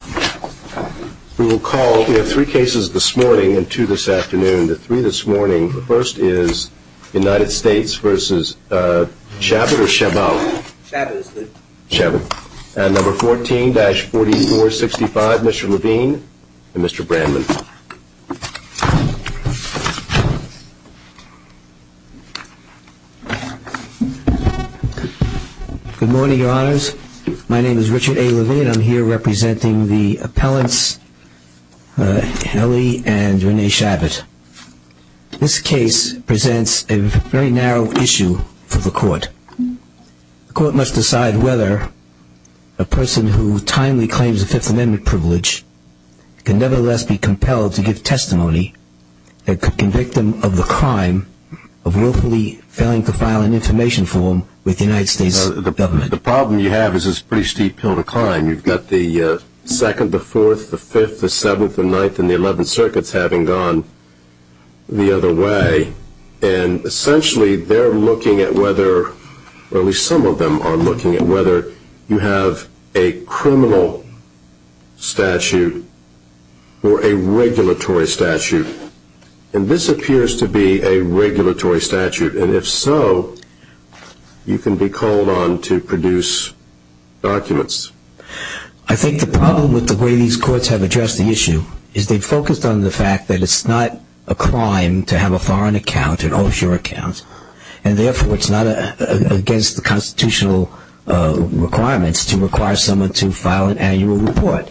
and number 14-4465 Mr. Levine and Mr. Brandman Good morning, your honors. My name is Richard A. Levine. I'm here representing the appellants Kelly and Renee Chabot. This case presents a very narrow issue for the court. The court must decide whether a person who timely claims a Fifth Amendment privilege can nevertheless be compelled to give testimony that could convict them of the crime of willfully failing to file an information form with the United The problem you have is a pretty steep hill to climb. You've got the 2nd, the 4th, the 5th, the 7th, the 9th, and the 11th circuits having gone the other way. And essentially they're looking at whether, or at least some of them are looking at whether you have a criminal statute or a regulatory statute. And this appears to be a regulatory statute. And if so, you can be called on to produce documents. I think the problem with the way these courts have addressed the issue is they've focused on the fact that it's not a crime to have a foreign account, an offshore account, and therefore it's not against the constitutional requirements to require someone to file an annual report.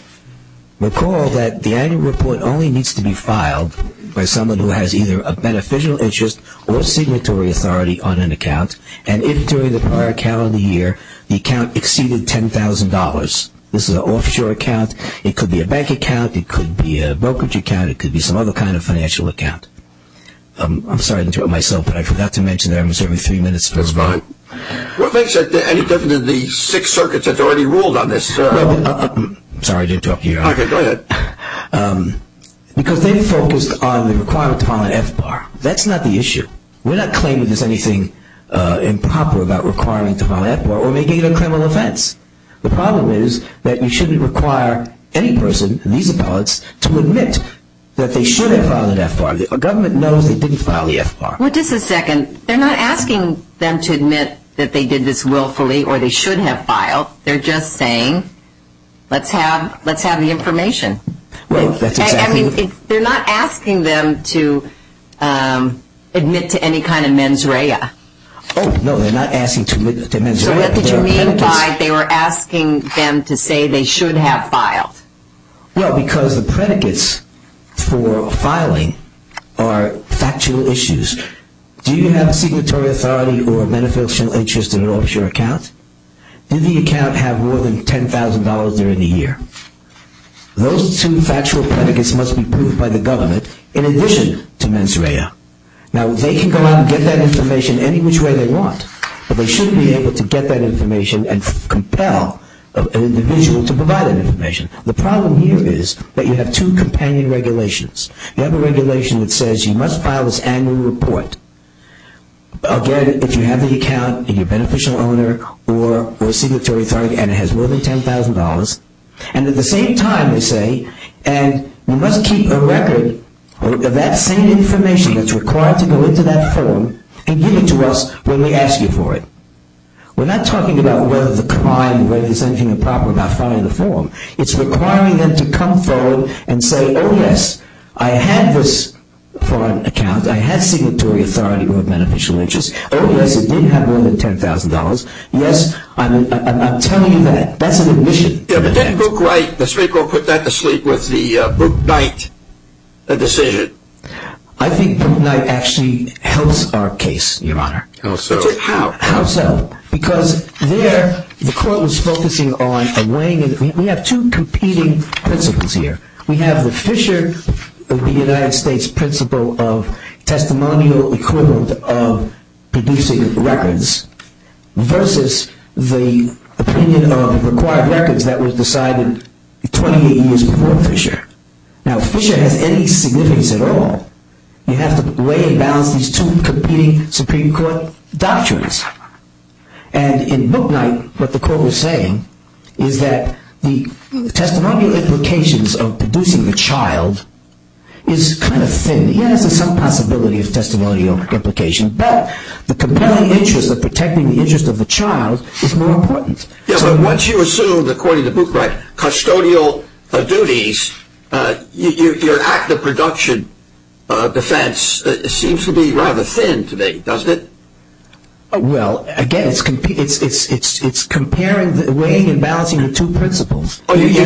Recall that the annual report only needs to be filed by someone who has either a beneficial interest or signatory authority on an account. And if during the prior calendar year the account exceeded $10,000, this is an offshore account. It could be a bank account. It could be a brokerage account. It could be some other kind of financial account. I'm sorry to interrupt myself, but I forgot to mention that I'm serving three minutes. That's fine. Well, thanks. And it doesn't in the six circuits that's already ruled on this. Sorry, I didn't talk to you. Okay, go ahead. Because they've focused on the requirement to file an F-bar. That's not the issue. We're not claiming there's anything improper about requiring to file an F-bar or making it a criminal offense. The problem is that you shouldn't require any person, these appellates, to admit that they should have filed an F-bar. The government knows they didn't file the F-bar. Well, just a second. They're not asking them to admit that they did this willfully or they should have filed. They're just saying, let's have the information. They're not asking them to admit to any kind of mens rea. Oh, no, they're not asking to admit to mens rea. So what did you mean by they were asking them to say they should have filed? Well, because the predicates for filing are factual issues. Do you have a signatory authority or a beneficial interest in an offshore account? Do the account have more than $10,000 during the year? Those two factual predicates must be proved by the government in addition to mens rea. Now, they can go out and get that information any which way they want, but they shouldn't be able to get that information and compel an individual to provide that information. The problem here is that you have two companion regulations. You have a regulation that says you must file this annual report. Again, if you have the account and you're a beneficial owner or a signatory authority and it has more than $10,000, and at the same time, they say, and you must keep a record of that same information that's required to go into that form and give it to us when we ask you for it. We're not talking about whether the crime, whether there's anything improper about filing the form. It's requiring them to come forward and say, oh, yes, I had this account. I had signatory authority or a beneficial interest. Oh, yes, it did have more than $10,000. Yes, I'm telling you that. That's an admission. Yeah, but didn't Bookright, the Supreme Court put that to sleep with the Booknight decision? I think Booknight actually helps our case, Your Honor. How so? How? How so? Because there, the court was focusing on weighing in. We have two competing principles here. We have the Fisher of the United States principle of testimonial equivalent of producing records versus the opinion of required records that was decided 28 years before Fisher. Now, if Fisher has any significance at all, you have to weigh and balance these two competing Supreme Court doctrines. And in Booknight, what the court was saying is that testimonial implications of producing the child is kind of thin. Yes, there's some possibility of testimonial implications, but the compelling interest of protecting the interest of the child is more important. Yeah, but once you assume, according to Bookright, custodial duties, your act of production defense seems to be rather thin to me, doesn't it? Well, again, it's comparing, weighing and balancing the two principles. Oh, you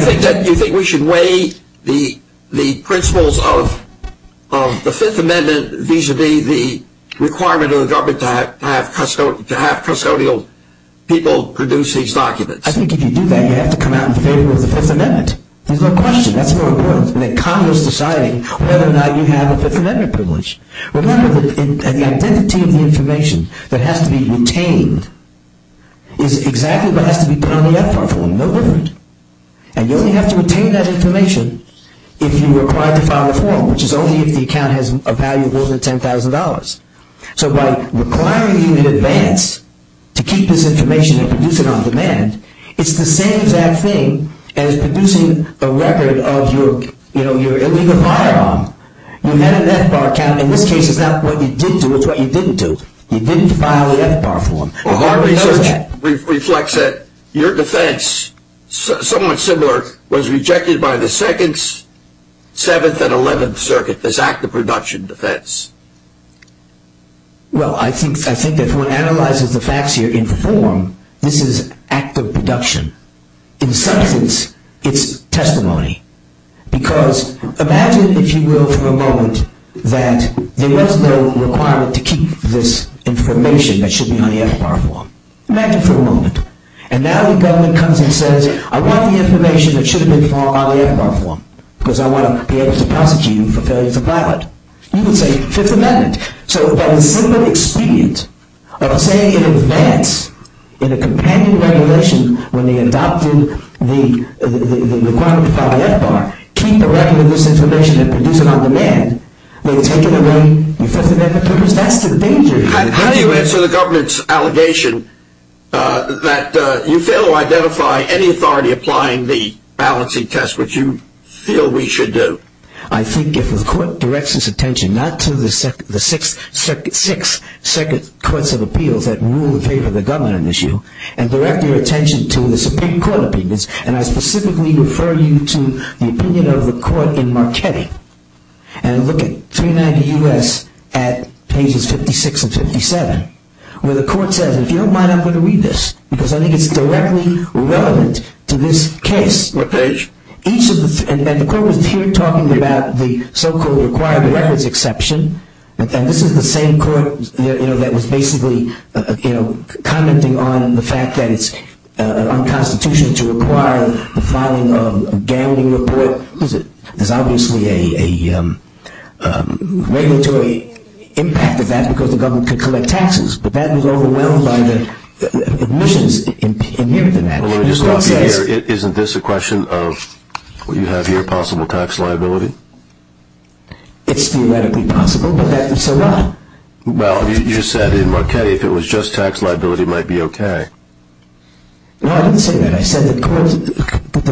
think we should weigh the principles of the Fifth Amendment vis-a-vis the requirement of the government to have custodial people produce these documents? I think if you do that, you have to come out in favor of the Fifth Amendment. There's no question. That's more important than Congress deciding whether or not you have a Fifth Amendment information that has to be retained is exactly what has to be put on the FBAR form. No different. And you only have to retain that information if you are required to file a form, which is only if the account has a value of more than $10,000. So by requiring you in advance to keep this information and produce it on demand, it's the same exact thing as producing a record of your illegal firearm. You had an FBAR account. In this case, you didn't file the FBAR form. Well, our research reflects that your defense, somewhat similar, was rejected by the 2nd, 7th, and 11th Circuit, this act of production defense. Well I think if one analyzes the facts here in form, this is act of production. In substance, it's testimony. Because imagine, if you will, for a moment, that there was no requirement to keep this information that should be on the FBAR form. Imagine for a moment. And now the government comes and says, I want the information that should have been filed on the FBAR form, because I want to be able to prosecute you for failure to file it. You would say, Fifth Amendment. So by the simple expedient of saying in advance, in a companion regulation, when they adopted the requirement to file the FBAR, keep a record of this information and produce it on demand, they were taking away your Fifth Amendment papers. That's the danger. How do you answer the government's allegation that you fail to identify any authority applying the balancing test, which you feel we should do? I think if the court directs its attention not to the 6th Courts of Appeals that rule in favor of the government on this issue, and direct your attention to the Supreme Court opinions, and I specifically refer you to the opinion of the court in Marchetti. And look at 390 U.S. at pages 56 and 57, where the court says, if you don't mind, I'm going to read this, because I think it's directly relevant to this case. What page? And the court was here talking about the so-called required records exception. And this is the same court that was basically commenting on the fact that it's unconstitutional to require the filing of a gambling report. There's obviously a regulatory impact of that because the government could collect taxes. But that was overwhelmed by the admissions in the event of that. Isn't this a question of, what you have here, possible tax liability? It's theoretically possible, but that's a lie. Well, you said in Marchetti if it was just tax liability, it might be okay. No, I didn't say that. I said the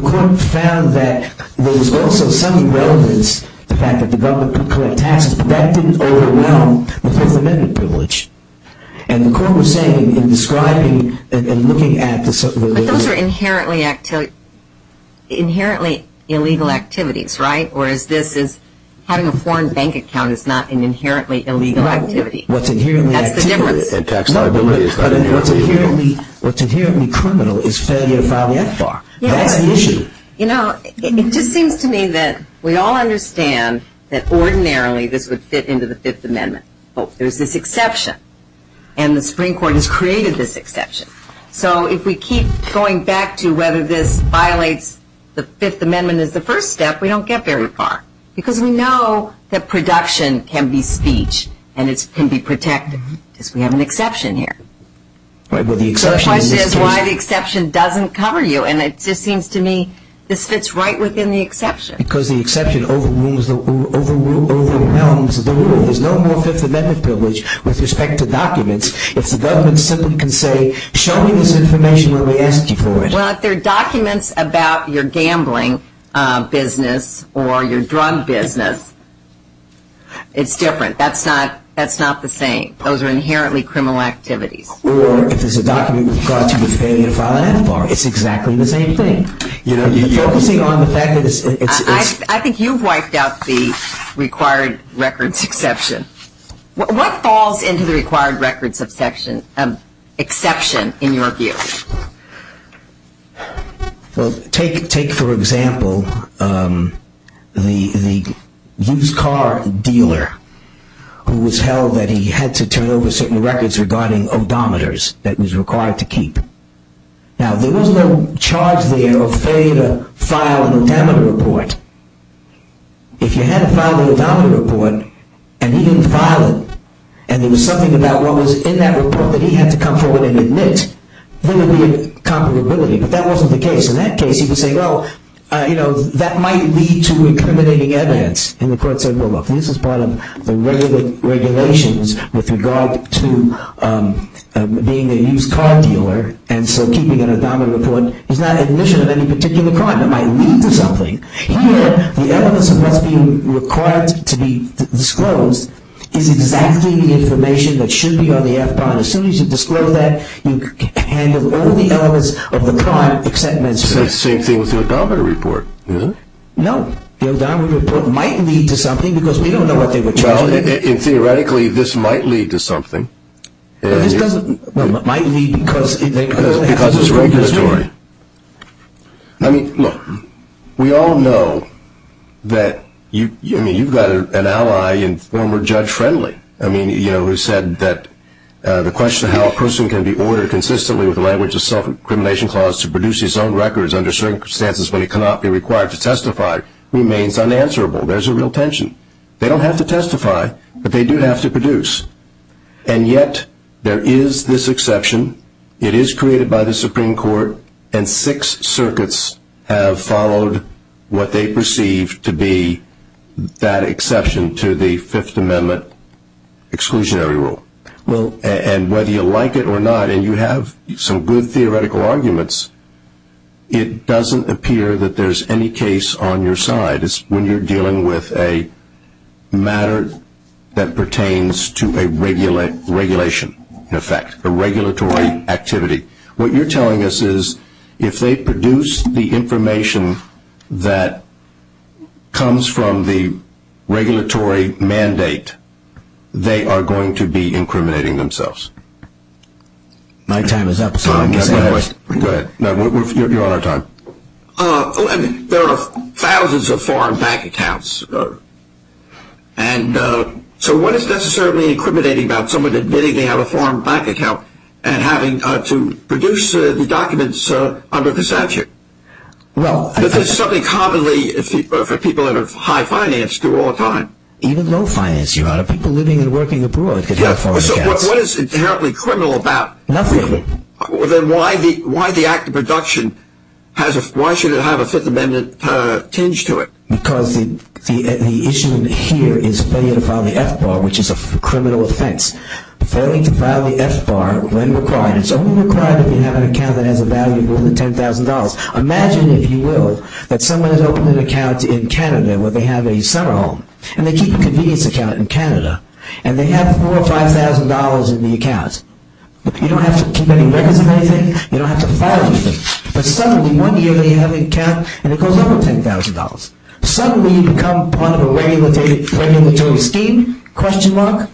court found that there was also some relevance to the fact that the government could collect taxes, but that didn't overwhelm the Fifth Amendment privilege. And the court was saying in describing and looking at the... But those are inherently illegal activities, right? Whereas this is, having a foreign bank account is not an inherently illegal activity. What's inherently criminal is failing to file the FBAR. That's the issue. You know, it just seems to me that we all understand that ordinarily this would fit into the Fifth Amendment. But there's this exception. And the Supreme Court has created this exception. So if we keep going back to whether this violates the Fifth Amendment as the first step, we don't get very far. Because we know that production can be speech and it can be protected. Because we have an exception here. Right, well the exception in this case... The question is why the exception doesn't cover you. And it just seems to me this fits right within the exception. Because the exception overwhelms the rule. There's no more Fifth Amendment privilege with respect to documents. If the government simply can say, show me this information when we ask you for it. Well, if they're documents about your gambling business or your drug business, it's different. That's not the same. Those are inherently criminal activities. Or if it's a document with regard to failing to file an FBAR, it's exactly the same thing. You know, you're focusing on the fact that it's... I think you've wiped out the required records exception. What falls into the required records exception in your view? Well, take for example, the used car dealer who was held that he had to turn over certain records regarding odometers that was required to keep. Now, there was no charge there of failure to file an odometer report. If you had to file an odometer report and he didn't file it, and there was something about what was in that report that he had to come forward and admit, there would be a comparability. But that wasn't the case. In that case, he would say, well, you know, that might lead to incriminating evidence. And the court said, well, look, this is part of the regulations with regard to being a used car dealer. And so keeping an odometer report is not admission of any particular crime. It might lead to something. Here, the evidence of what's being required to be disclosed is exactly the information that should be on the FBAR. As soon as you disclose that, you handle all the elements of the crime, except menstruation. It's the same thing with the odometer report, isn't it? No. The odometer report might lead to something because we don't know what they were charging. Well, and theoretically, this might lead to something. This doesn't, well, it might lead because it's regulatory. I mean, look, we all know that you, I mean, you've got an ally in former Judge Friendly. I mean, you know, who said that the question of how a person can be ordered consistently with the language of self-incrimination clause to produce his own records under certain circumstances when he cannot be required to testify remains unanswerable. There's a real tension. They don't have to testify, but they do have to produce. And yet there is this exception. It is created by the Supreme Court. And six circuits have followed what they perceive to be that exception to the Fifth Amendment. Exclusionary rule. Well, and whether you like it or not, and you have some good theoretical arguments, it doesn't appear that there's any case on your side. It's when you're dealing with a matter that pertains to a regulation, in effect, a regulatory activity. What you're telling us is if they produce the information that comes from the regulatory mandate, they are going to be incriminating themselves. My time is up. Go ahead. You're on our time. There are thousands of foreign bank accounts. And so what is necessarily incriminating about someone admitting they have a foreign bank account and having to produce the documents under the statute? Well, This is something commonly for people that have high finance do all the time. Even low finance, Your Honor. People living and working abroad could have foreign accounts. What is inherently criminal about it? Nothing. Then why the act of production? Why should it have a Fifth Amendment tinge to it? Because the issue here is failing to file the F-bar, which is a criminal offense. Failing to file the F-bar when required. It's only required if you have an account that has a value of more than $10,000. Imagine, if you will, that someone has opened an account in Canada where they have a summer home. And they keep a convenience account in Canada. And they have $4,000 or $5,000 in the account. You don't have to keep any records of anything. You don't have to file anything. But suddenly, one year, they have an account and it goes over $10,000. Suddenly, you become part of a regulatory scheme, question mark.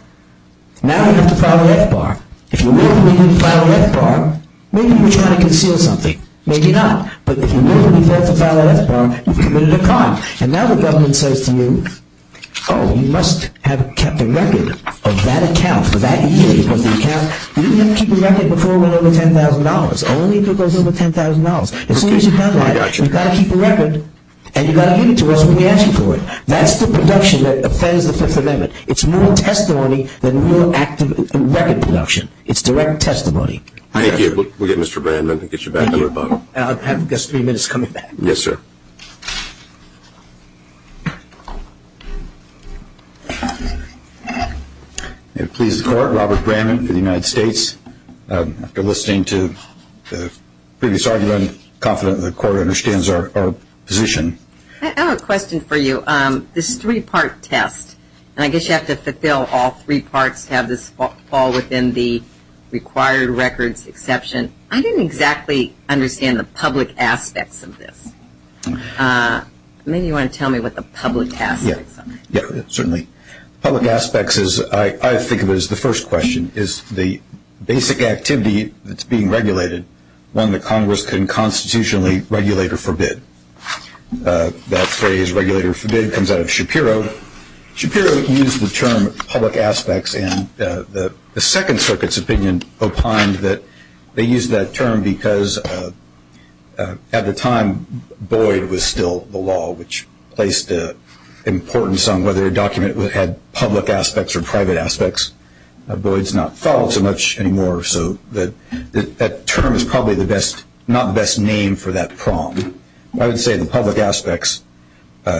Now you have to file an F-bar. If you will, you need to file an F-bar. Maybe you're trying to conceal something. Maybe not. But if you will, you have to file an F-bar. You've committed a crime. And now the government says to you, oh, you must have kept a record of that account for that year. Because the account, you didn't have to keep a record before it went over $10,000. Only if it goes over $10,000. As soon as you've done that, you've got to keep a record. And you've got to get it to us when we ask you for it. That's the production that offends the Fifth Amendment. It's more testimony than real record production. It's direct testimony. Thank you. We'll get Mr. Brandman to get you back on the phone. I've got three minutes coming back. Yes, sir. May it please the Court, Robert Brandman for the United States. After listening to the previous argument, I'm confident the Court understands our position. I have a question for you. This three-part test, and I guess you have to fulfill all three parts to have this fall within the required records exception. I didn't exactly understand the public aspects of this. Maybe you want to tell me what the public aspects are. Yes, certainly. Public aspects, I think of it as the first question, is the basic activity that's being regulated, one that Congress can constitutionally regulate or forbid. That phrase, regulate or forbid, comes out of Shapiro. Shapiro used the term public aspects, and the Second Circuit's opinion opined that they was still the law, which placed importance on whether a document had public aspects or private aspects. Boyd's not followed so much anymore, so that term is probably not the best name for that prong. I would say the public aspects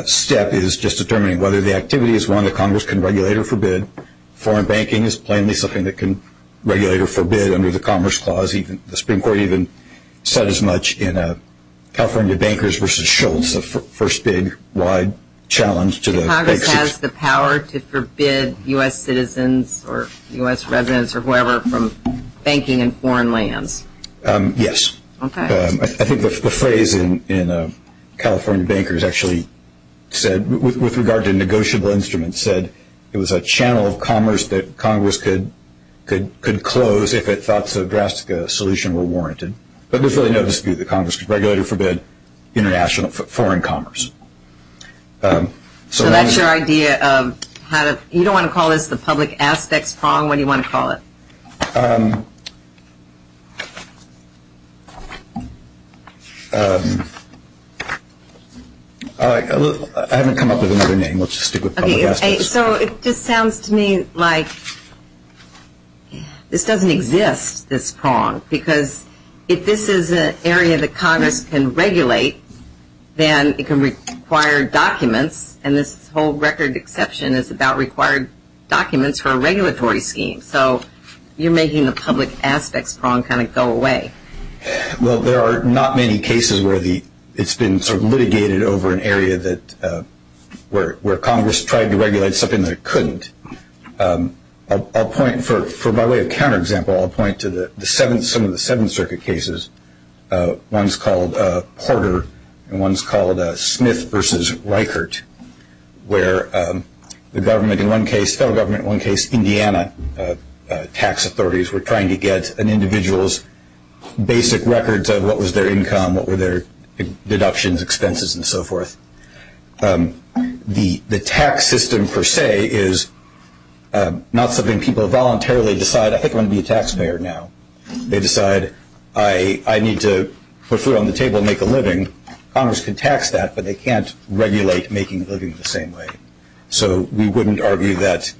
step is just determining whether the activity is one that Congress can regulate or forbid. Foreign banking is plainly something that can regulate or forbid under the Commerce Clause. The Supreme Court even said as much in California Bankers versus Schultz, the first big, wide challenge to the basics. Congress has the power to forbid U.S. citizens or U.S. residents or whoever from banking in foreign lands. Yes. I think the phrase in California Bankers actually said, with regard to negotiable instruments, it was a channel of commerce that Congress could close if it thought a drastic solution were warranted. But there's really no dispute that Congress could regulate or forbid international foreign commerce. So that's your idea of, you don't want to call this the public aspects prong? What do you want to call it? I haven't come up with another name. Let's just stick with public aspects. So it just sounds to me like this doesn't exist, this prong. Because if this is an area that Congress can regulate, then it can require documents. And this whole record exception is about required documents for a regulatory scheme. So you're making the public aspects prong kind of go away. Well, there are not many cases where it's been sort of litigated over an area where Congress tried to regulate something that it couldn't. For my way of counterexample, I'll point to some of the Seventh Circuit cases. One's called Porter. And one's called Smith versus Reichert, where the government in one case, federal government in one case, Indiana tax authorities were trying to get an individual's basic records of what was their income, what were their deductions, expenses, and so forth. The tax system, per se, is not something people voluntarily decide, I think I'm going to be a taxpayer now. They decide, I need to put food on the table and make a living. Congress can tax that, but they can't regulate making a living the same way. So we wouldn't argue that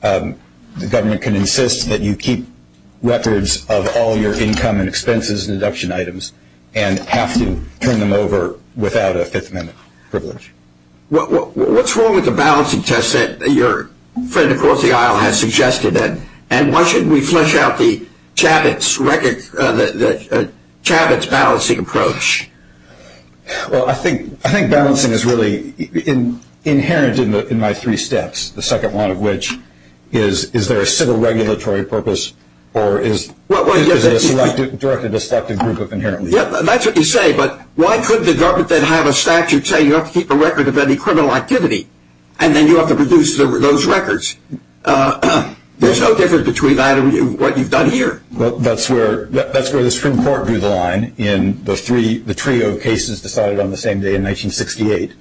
the government can insist that you keep records of all your income and expenses and deduction items and have to turn them over without a Fifth Amendment. What's wrong with the balancing test that your friend across the aisle has suggested, and why shouldn't we flesh out the Chabot's balancing approach? Well, I think balancing is really inherent in my three steps, the second one of which is, is there a civil regulatory purpose or is it a selective, directed, destructive group of inherent leaders? That's what you say, but why couldn't the government then have a statute say you have to keep a record of any criminal activity, and then you have to produce those records? There's no difference between that and what you've done here. Well, that's where the Supreme Court drew the line in the trio of cases decided on the same day in 1968.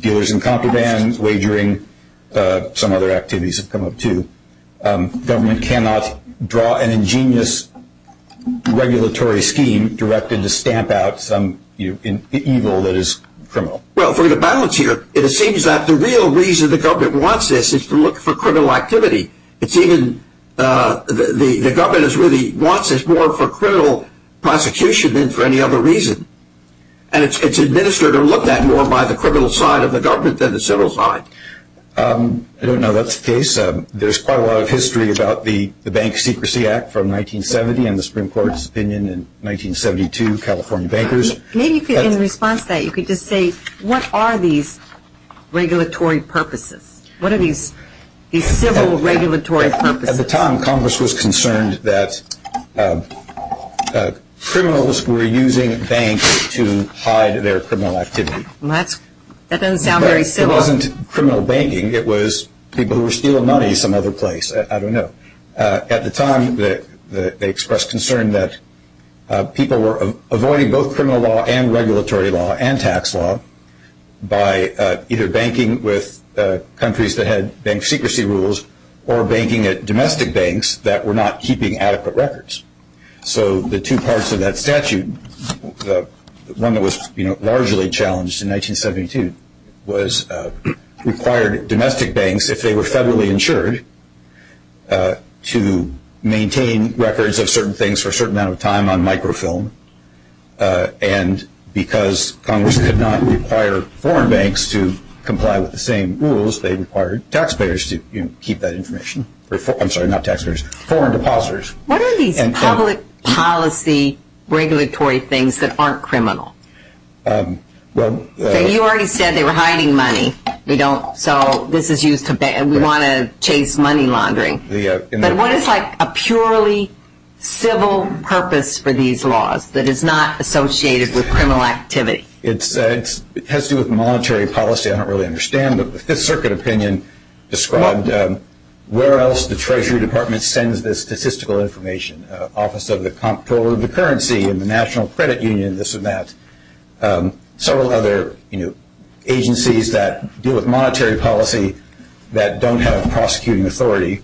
Dealers in compromise, wagering, some other activities have come up too. Government cannot draw an ingenious regulatory scheme directed to stamp out some evil that is criminal. Well, for the balance here, it seems that the real reason the government wants this is to look for criminal activity. It's even, the government really wants this more for criminal prosecution than for any other reason. And it's administered or looked at more by the criminal side of the government than the civil side. I don't know that's the case. There's quite a lot of history about the Bank Secrecy Act from 1970 and the Supreme Court's opinion in 1972, California bankers. Maybe in response to that, you could just say, what are these regulatory purposes? What are these civil regulatory purposes? At the time, Congress was concerned that criminals were using banks to hide their criminal activity. Well, that doesn't sound very civil. It wasn't criminal banking. It was people who were stealing money some other place. I don't know. At the time, they expressed concern that people were avoiding both criminal law and regulatory law and tax law by either banking with countries that had bank secrecy rules or banking at domestic banks that were not keeping adequate records. So the two parts of that statute, the one that was largely challenged in 1972, was required domestic banks, if they were federally insured, to maintain records of certain things for a certain amount of time on microfilm. And because Congress could not require foreign banks to comply with the same rules, they required taxpayers to keep that information. I'm sorry, not taxpayers, foreign depositors. What are these public policy regulatory things that aren't criminal? You already said they were hiding money. We don't. So this is used to ban. We want to chase money laundering. But what is a purely civil purpose for these laws that is not associated with criminal activity? It has to do with monetary policy. I don't really understand. But the Fifth Circuit opinion described where else the Treasury Department sends the statistical information, Office of the Comptroller of the Currency and the National Credit Union, this and that, several other agencies that deal with monetary policy that don't have prosecuting authority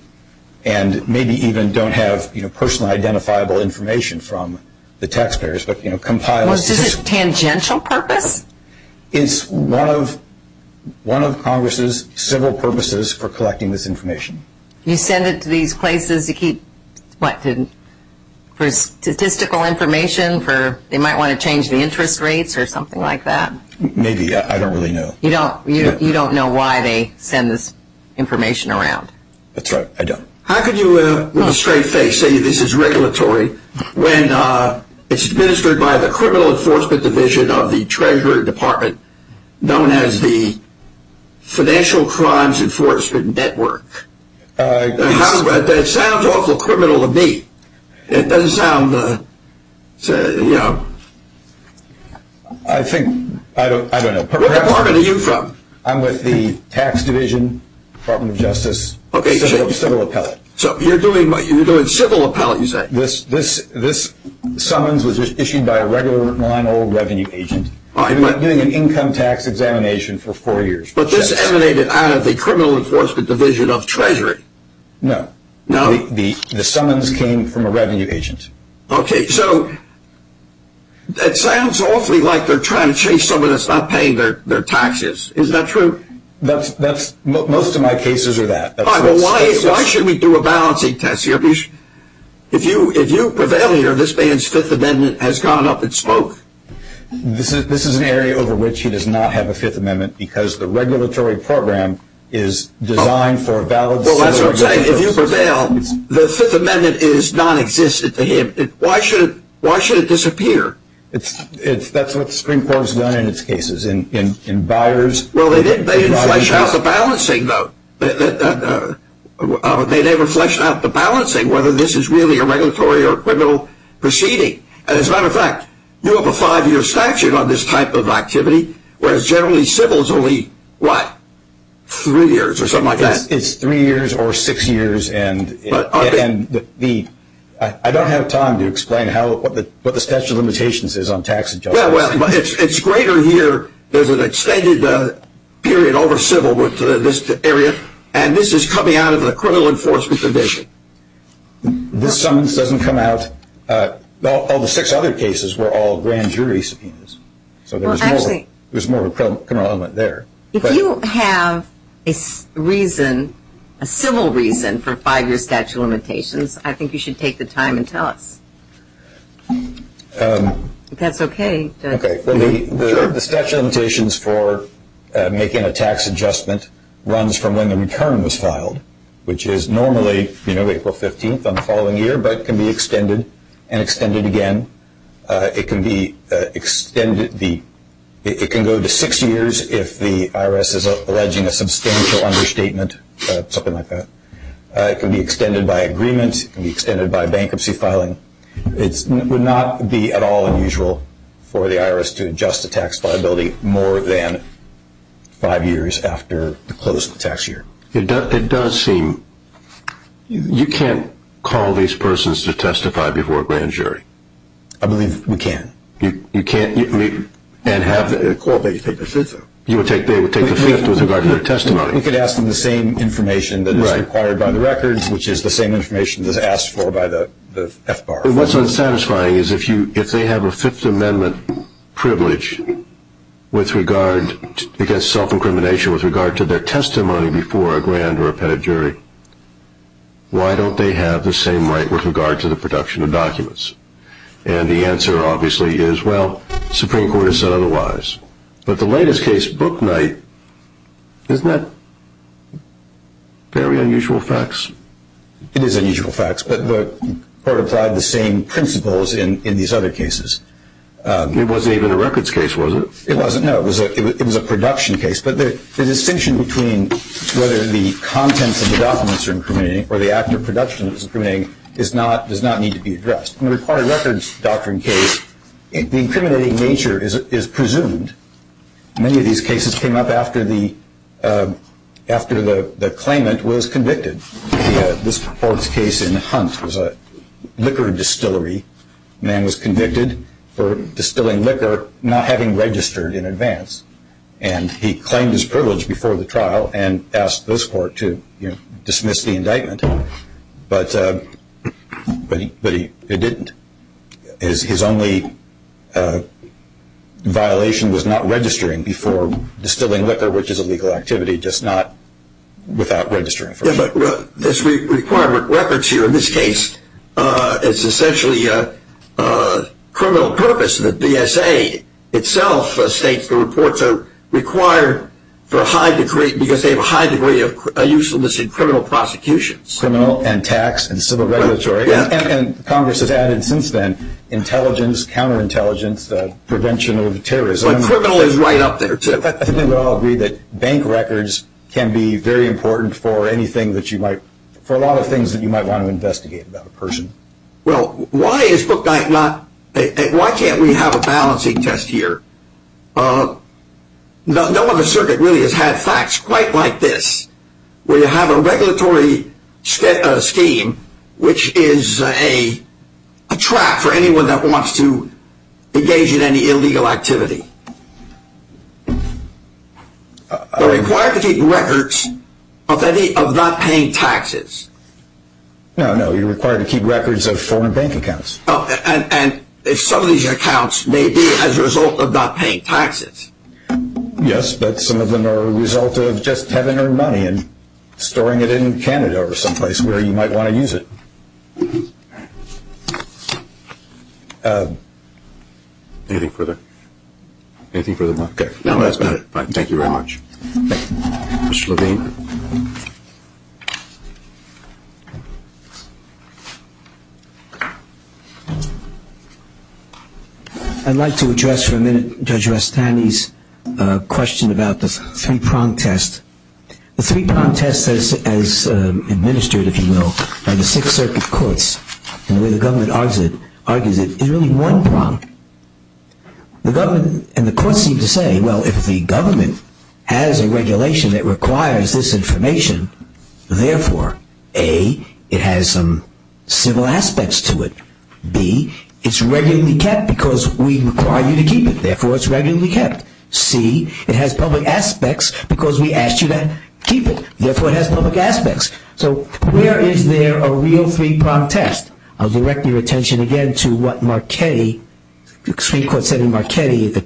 and maybe even don't have personal identifiable information from the taxpayers, but compiles. Was this a tangential purpose? It's one of Congress's civil purposes for collecting this information. You send it to these places to keep, what, for statistical information, for, they might want to change the interest rates or something like that? Maybe. I don't really know. You don't know why they send this information around? That's right. I don't. How could you, with a straight face, say this is regulatory when it's administered by the Criminal Enforcement Division of the Treasury Department, known as the Financial Crimes Enforcement Network? That sounds awful criminal to me. It doesn't sound, you know. I think, I don't know. What department are you from? I'm with the Tax Division, Department of Justice, civil appellate. So you're doing civil appellate, you say? This summons was issued by a regular non-old revenue agent. I've been doing an income tax examination for four years. But this emanated out of the Criminal Enforcement Division of Treasury. No. No? The summons came from a revenue agent. Okay, so that sounds awfully like they're trying to chase someone that's not paying their taxes. Is that true? That's, most of my cases are that. All right, well why should we do a balancing test here? Because if you prevail here, this man's Fifth Amendment has gone up in smoke. This is an area over which he does not have a Fifth Amendment, because the regulatory program is designed for a valid... Well, that's what I'm saying. If you prevail, the Fifth Amendment is non-existent to him. Why should it disappear? That's what the Supreme Court has done in its cases, in buyers... Well, they didn't flesh out the balancing, though. They never fleshed out the balancing, whether this is really a regulatory or criminal proceeding. As a matter of fact, you have a five-year statute on this type of activity, whereas generally civil is only, what, three years or something like that? It's three years or six years, and I don't have time to explain what the statute of limitations is on tax adjustments. Yeah, well, it's greater here. There's an extended period over civil with this area, and this is coming out of the Criminal Enforcement Division. This summons doesn't come out... All the six other cases were all grand jury subpoenas, so there's more of a criminal element there. If you have a reason, a civil reason, for five-year statute of limitations, I think you should take the time and tell us. That's okay, Judge. Okay, well, the statute of limitations for making a tax adjustment runs from when the following year, but can be extended and extended again. It can go to six years if the IRS is alleging a substantial understatement, something like that. It can be extended by agreement. It can be extended by bankruptcy filing. It would not be at all unusual for the IRS to adjust a tax liability more than five years after the close of the tax year. It does seem... You can't call these persons to testify before a grand jury. I believe we can. You can't. And have... I'd call, but you'd take the fifth. You would take... They would take the fifth with regard to their testimony. We could ask them the same information that is required by the records, which is the same information that's asked for by the FBAR. What's unsatisfying is if they have a Fifth Amendment privilege against self-incrimination with regard to their testimony before a grand or a pedigree, why don't they have the same right with regard to the production of documents? And the answer obviously is, well, the Supreme Court has said otherwise. But the latest case, Brooknight, isn't that very unusual facts? It is unusual facts, but part of the same principles in these other cases. It wasn't even a records case, was it? It wasn't, no. It was a production case. But the distinction between whether the contents of the documents are incriminating or the act of production that's incriminating does not need to be addressed. In the recorded records doctrine case, the incriminating nature is presumed. Many of these cases came up after the claimant was convicted. This court's case in Hunt was a liquor distillery. Man was convicted for distilling liquor, not having registered in advance. And he claimed his privilege before the trial and asked this court to dismiss the indictment. But it didn't. His only violation was not registering before distilling liquor, which is a legal activity, just not without registering first. This requirement, records here in this case, is essentially a criminal purpose. The BSA itself states the reports are required for a high degree, because they have a high degree of usefulness in criminal prosecutions. Criminal and tax and civil regulatory. And Congress has added since then intelligence, counterintelligence, prevention of terrorism. But criminal is right up there, too. I think we all agree that bank records can be very important for anything that you might, for a lot of things that you might want to investigate about a person. Well, why is book not, why can't we have a balancing test here? No other circuit really has had facts quite like this, where you have a regulatory scheme, which is a trap for anyone that wants to engage in any illegal activity. We're required to keep records of any, of not paying taxes. No, no, you're required to keep records of foreign bank accounts. Oh, and if some of these accounts may be as a result of not paying taxes. Yes, but some of them are a result of just having earned money and storing it in Canada or someplace where you might want to use it. Anything further? Anything for the book? No, that's about it. Thank you very much. I'd like to address for a minute Judge Rastani's question about the three-prong test. The three-prong test as administered, if you will, by the Sixth Circuit Courts, and the way the government argues it, is really one prong. The government and the courts seem to say, well, if the government has a regulation that requires this information, therefore, A, it has some civil aspects to it. B, it's regularly kept because we require you to keep it, therefore, it's regularly kept. C, it has public aspects because we asked you to keep it, therefore, it has public aspects. So where is there a real three-prong test? I'll direct your attention again to what the Supreme Court said in Marchetti, the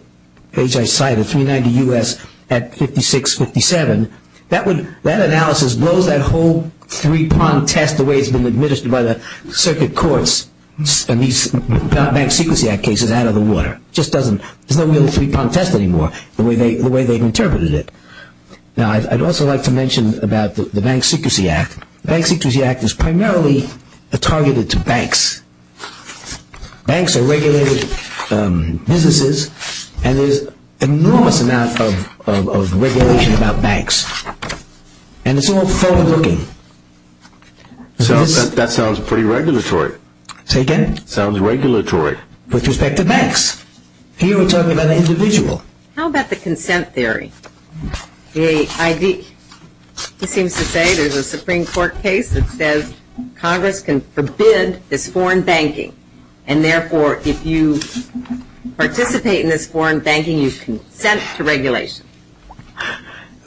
page I cited, 390 U.S. at 5657. That analysis blows that whole three-prong test the way it's been administered by the Circuit Courts and these Bank Secrecy Act cases out of the water. There's no real three-prong test anymore, the way they've interpreted it. Now, I'd also like to mention about the Bank Secrecy Act. The Bank Secrecy Act is primarily targeted to banks. Banks are regulated businesses and there's an enormous amount of regulation about banks. And it's all forward-looking. That sounds pretty regulatory. Say again? Sounds regulatory. With respect to banks. Here we're talking about an individual. How about the consent theory? The, I think, he seems to say there's a Supreme Court case that says Congress can forbid this foreign banking and therefore if you participate in this foreign banking, you consent to regulation. I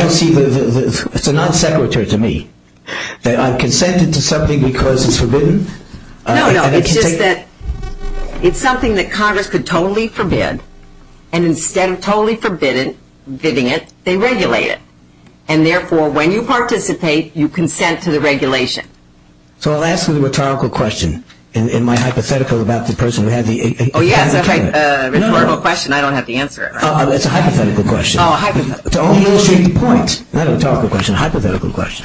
don't see the, it's a non-sequitur to me. I've consented to something because it's forbidden? No, no, it's just that it's something that Congress could totally forbid. And instead of totally forbidding it, they regulate it. And therefore, when you participate, you consent to the regulation. So I'll ask you the rhetorical question. In my hypothetical about the person who had the... Oh yes, a rhetorical question. I don't have to answer it, right? It's a hypothetical question. To only illustrate the point, not a rhetorical question, a hypothetical question.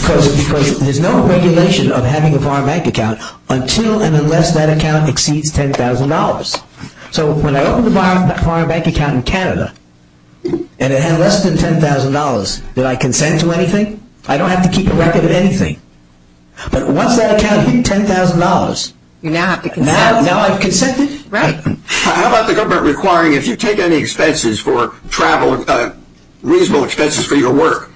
Because there's no regulation of having a foreign bank account until and unless that account exceeds $10,000. So when I opened a foreign bank account in Canada, and it had less than $10,000, did I consent to anything? I don't have to keep a record of anything. But once that account hit $10,000, now I've consented? Right. How about the government requiring if you take any expenses for travel, reasonable expenses for your work,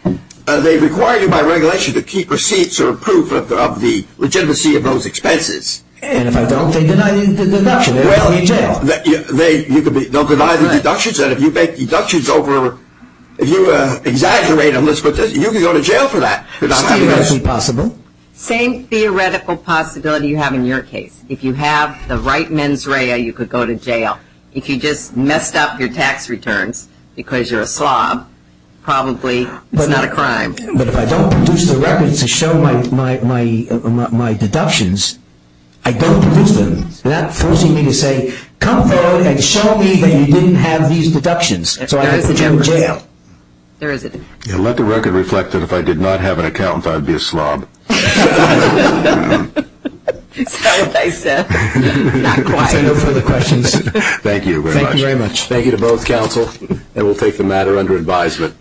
they require you by regulation to keep receipts or proof of the legitimacy of those expenses? And if I don't, they deny the deduction. Well, you could deny the deductions, and if you make deductions over... If you exaggerate a list like this, you could go to jail for that. It's theoretically possible. Same theoretical possibility you have in your case. If you have the right mens rea, you could go to jail. If you just messed up your tax returns because you're a slob, probably it's not a crime. But if I don't produce the records to show my deductions, I don't produce them. That forces me to say, come forward and show me that you didn't have these deductions, so I can put you in jail. There is a... Yeah, let the record reflect that if I did not have an accountant, I'd be a slob. That's not what I said. Not quite. No further questions. Thank you very much. Thank you to both counsel. And we'll take the matter under advisement.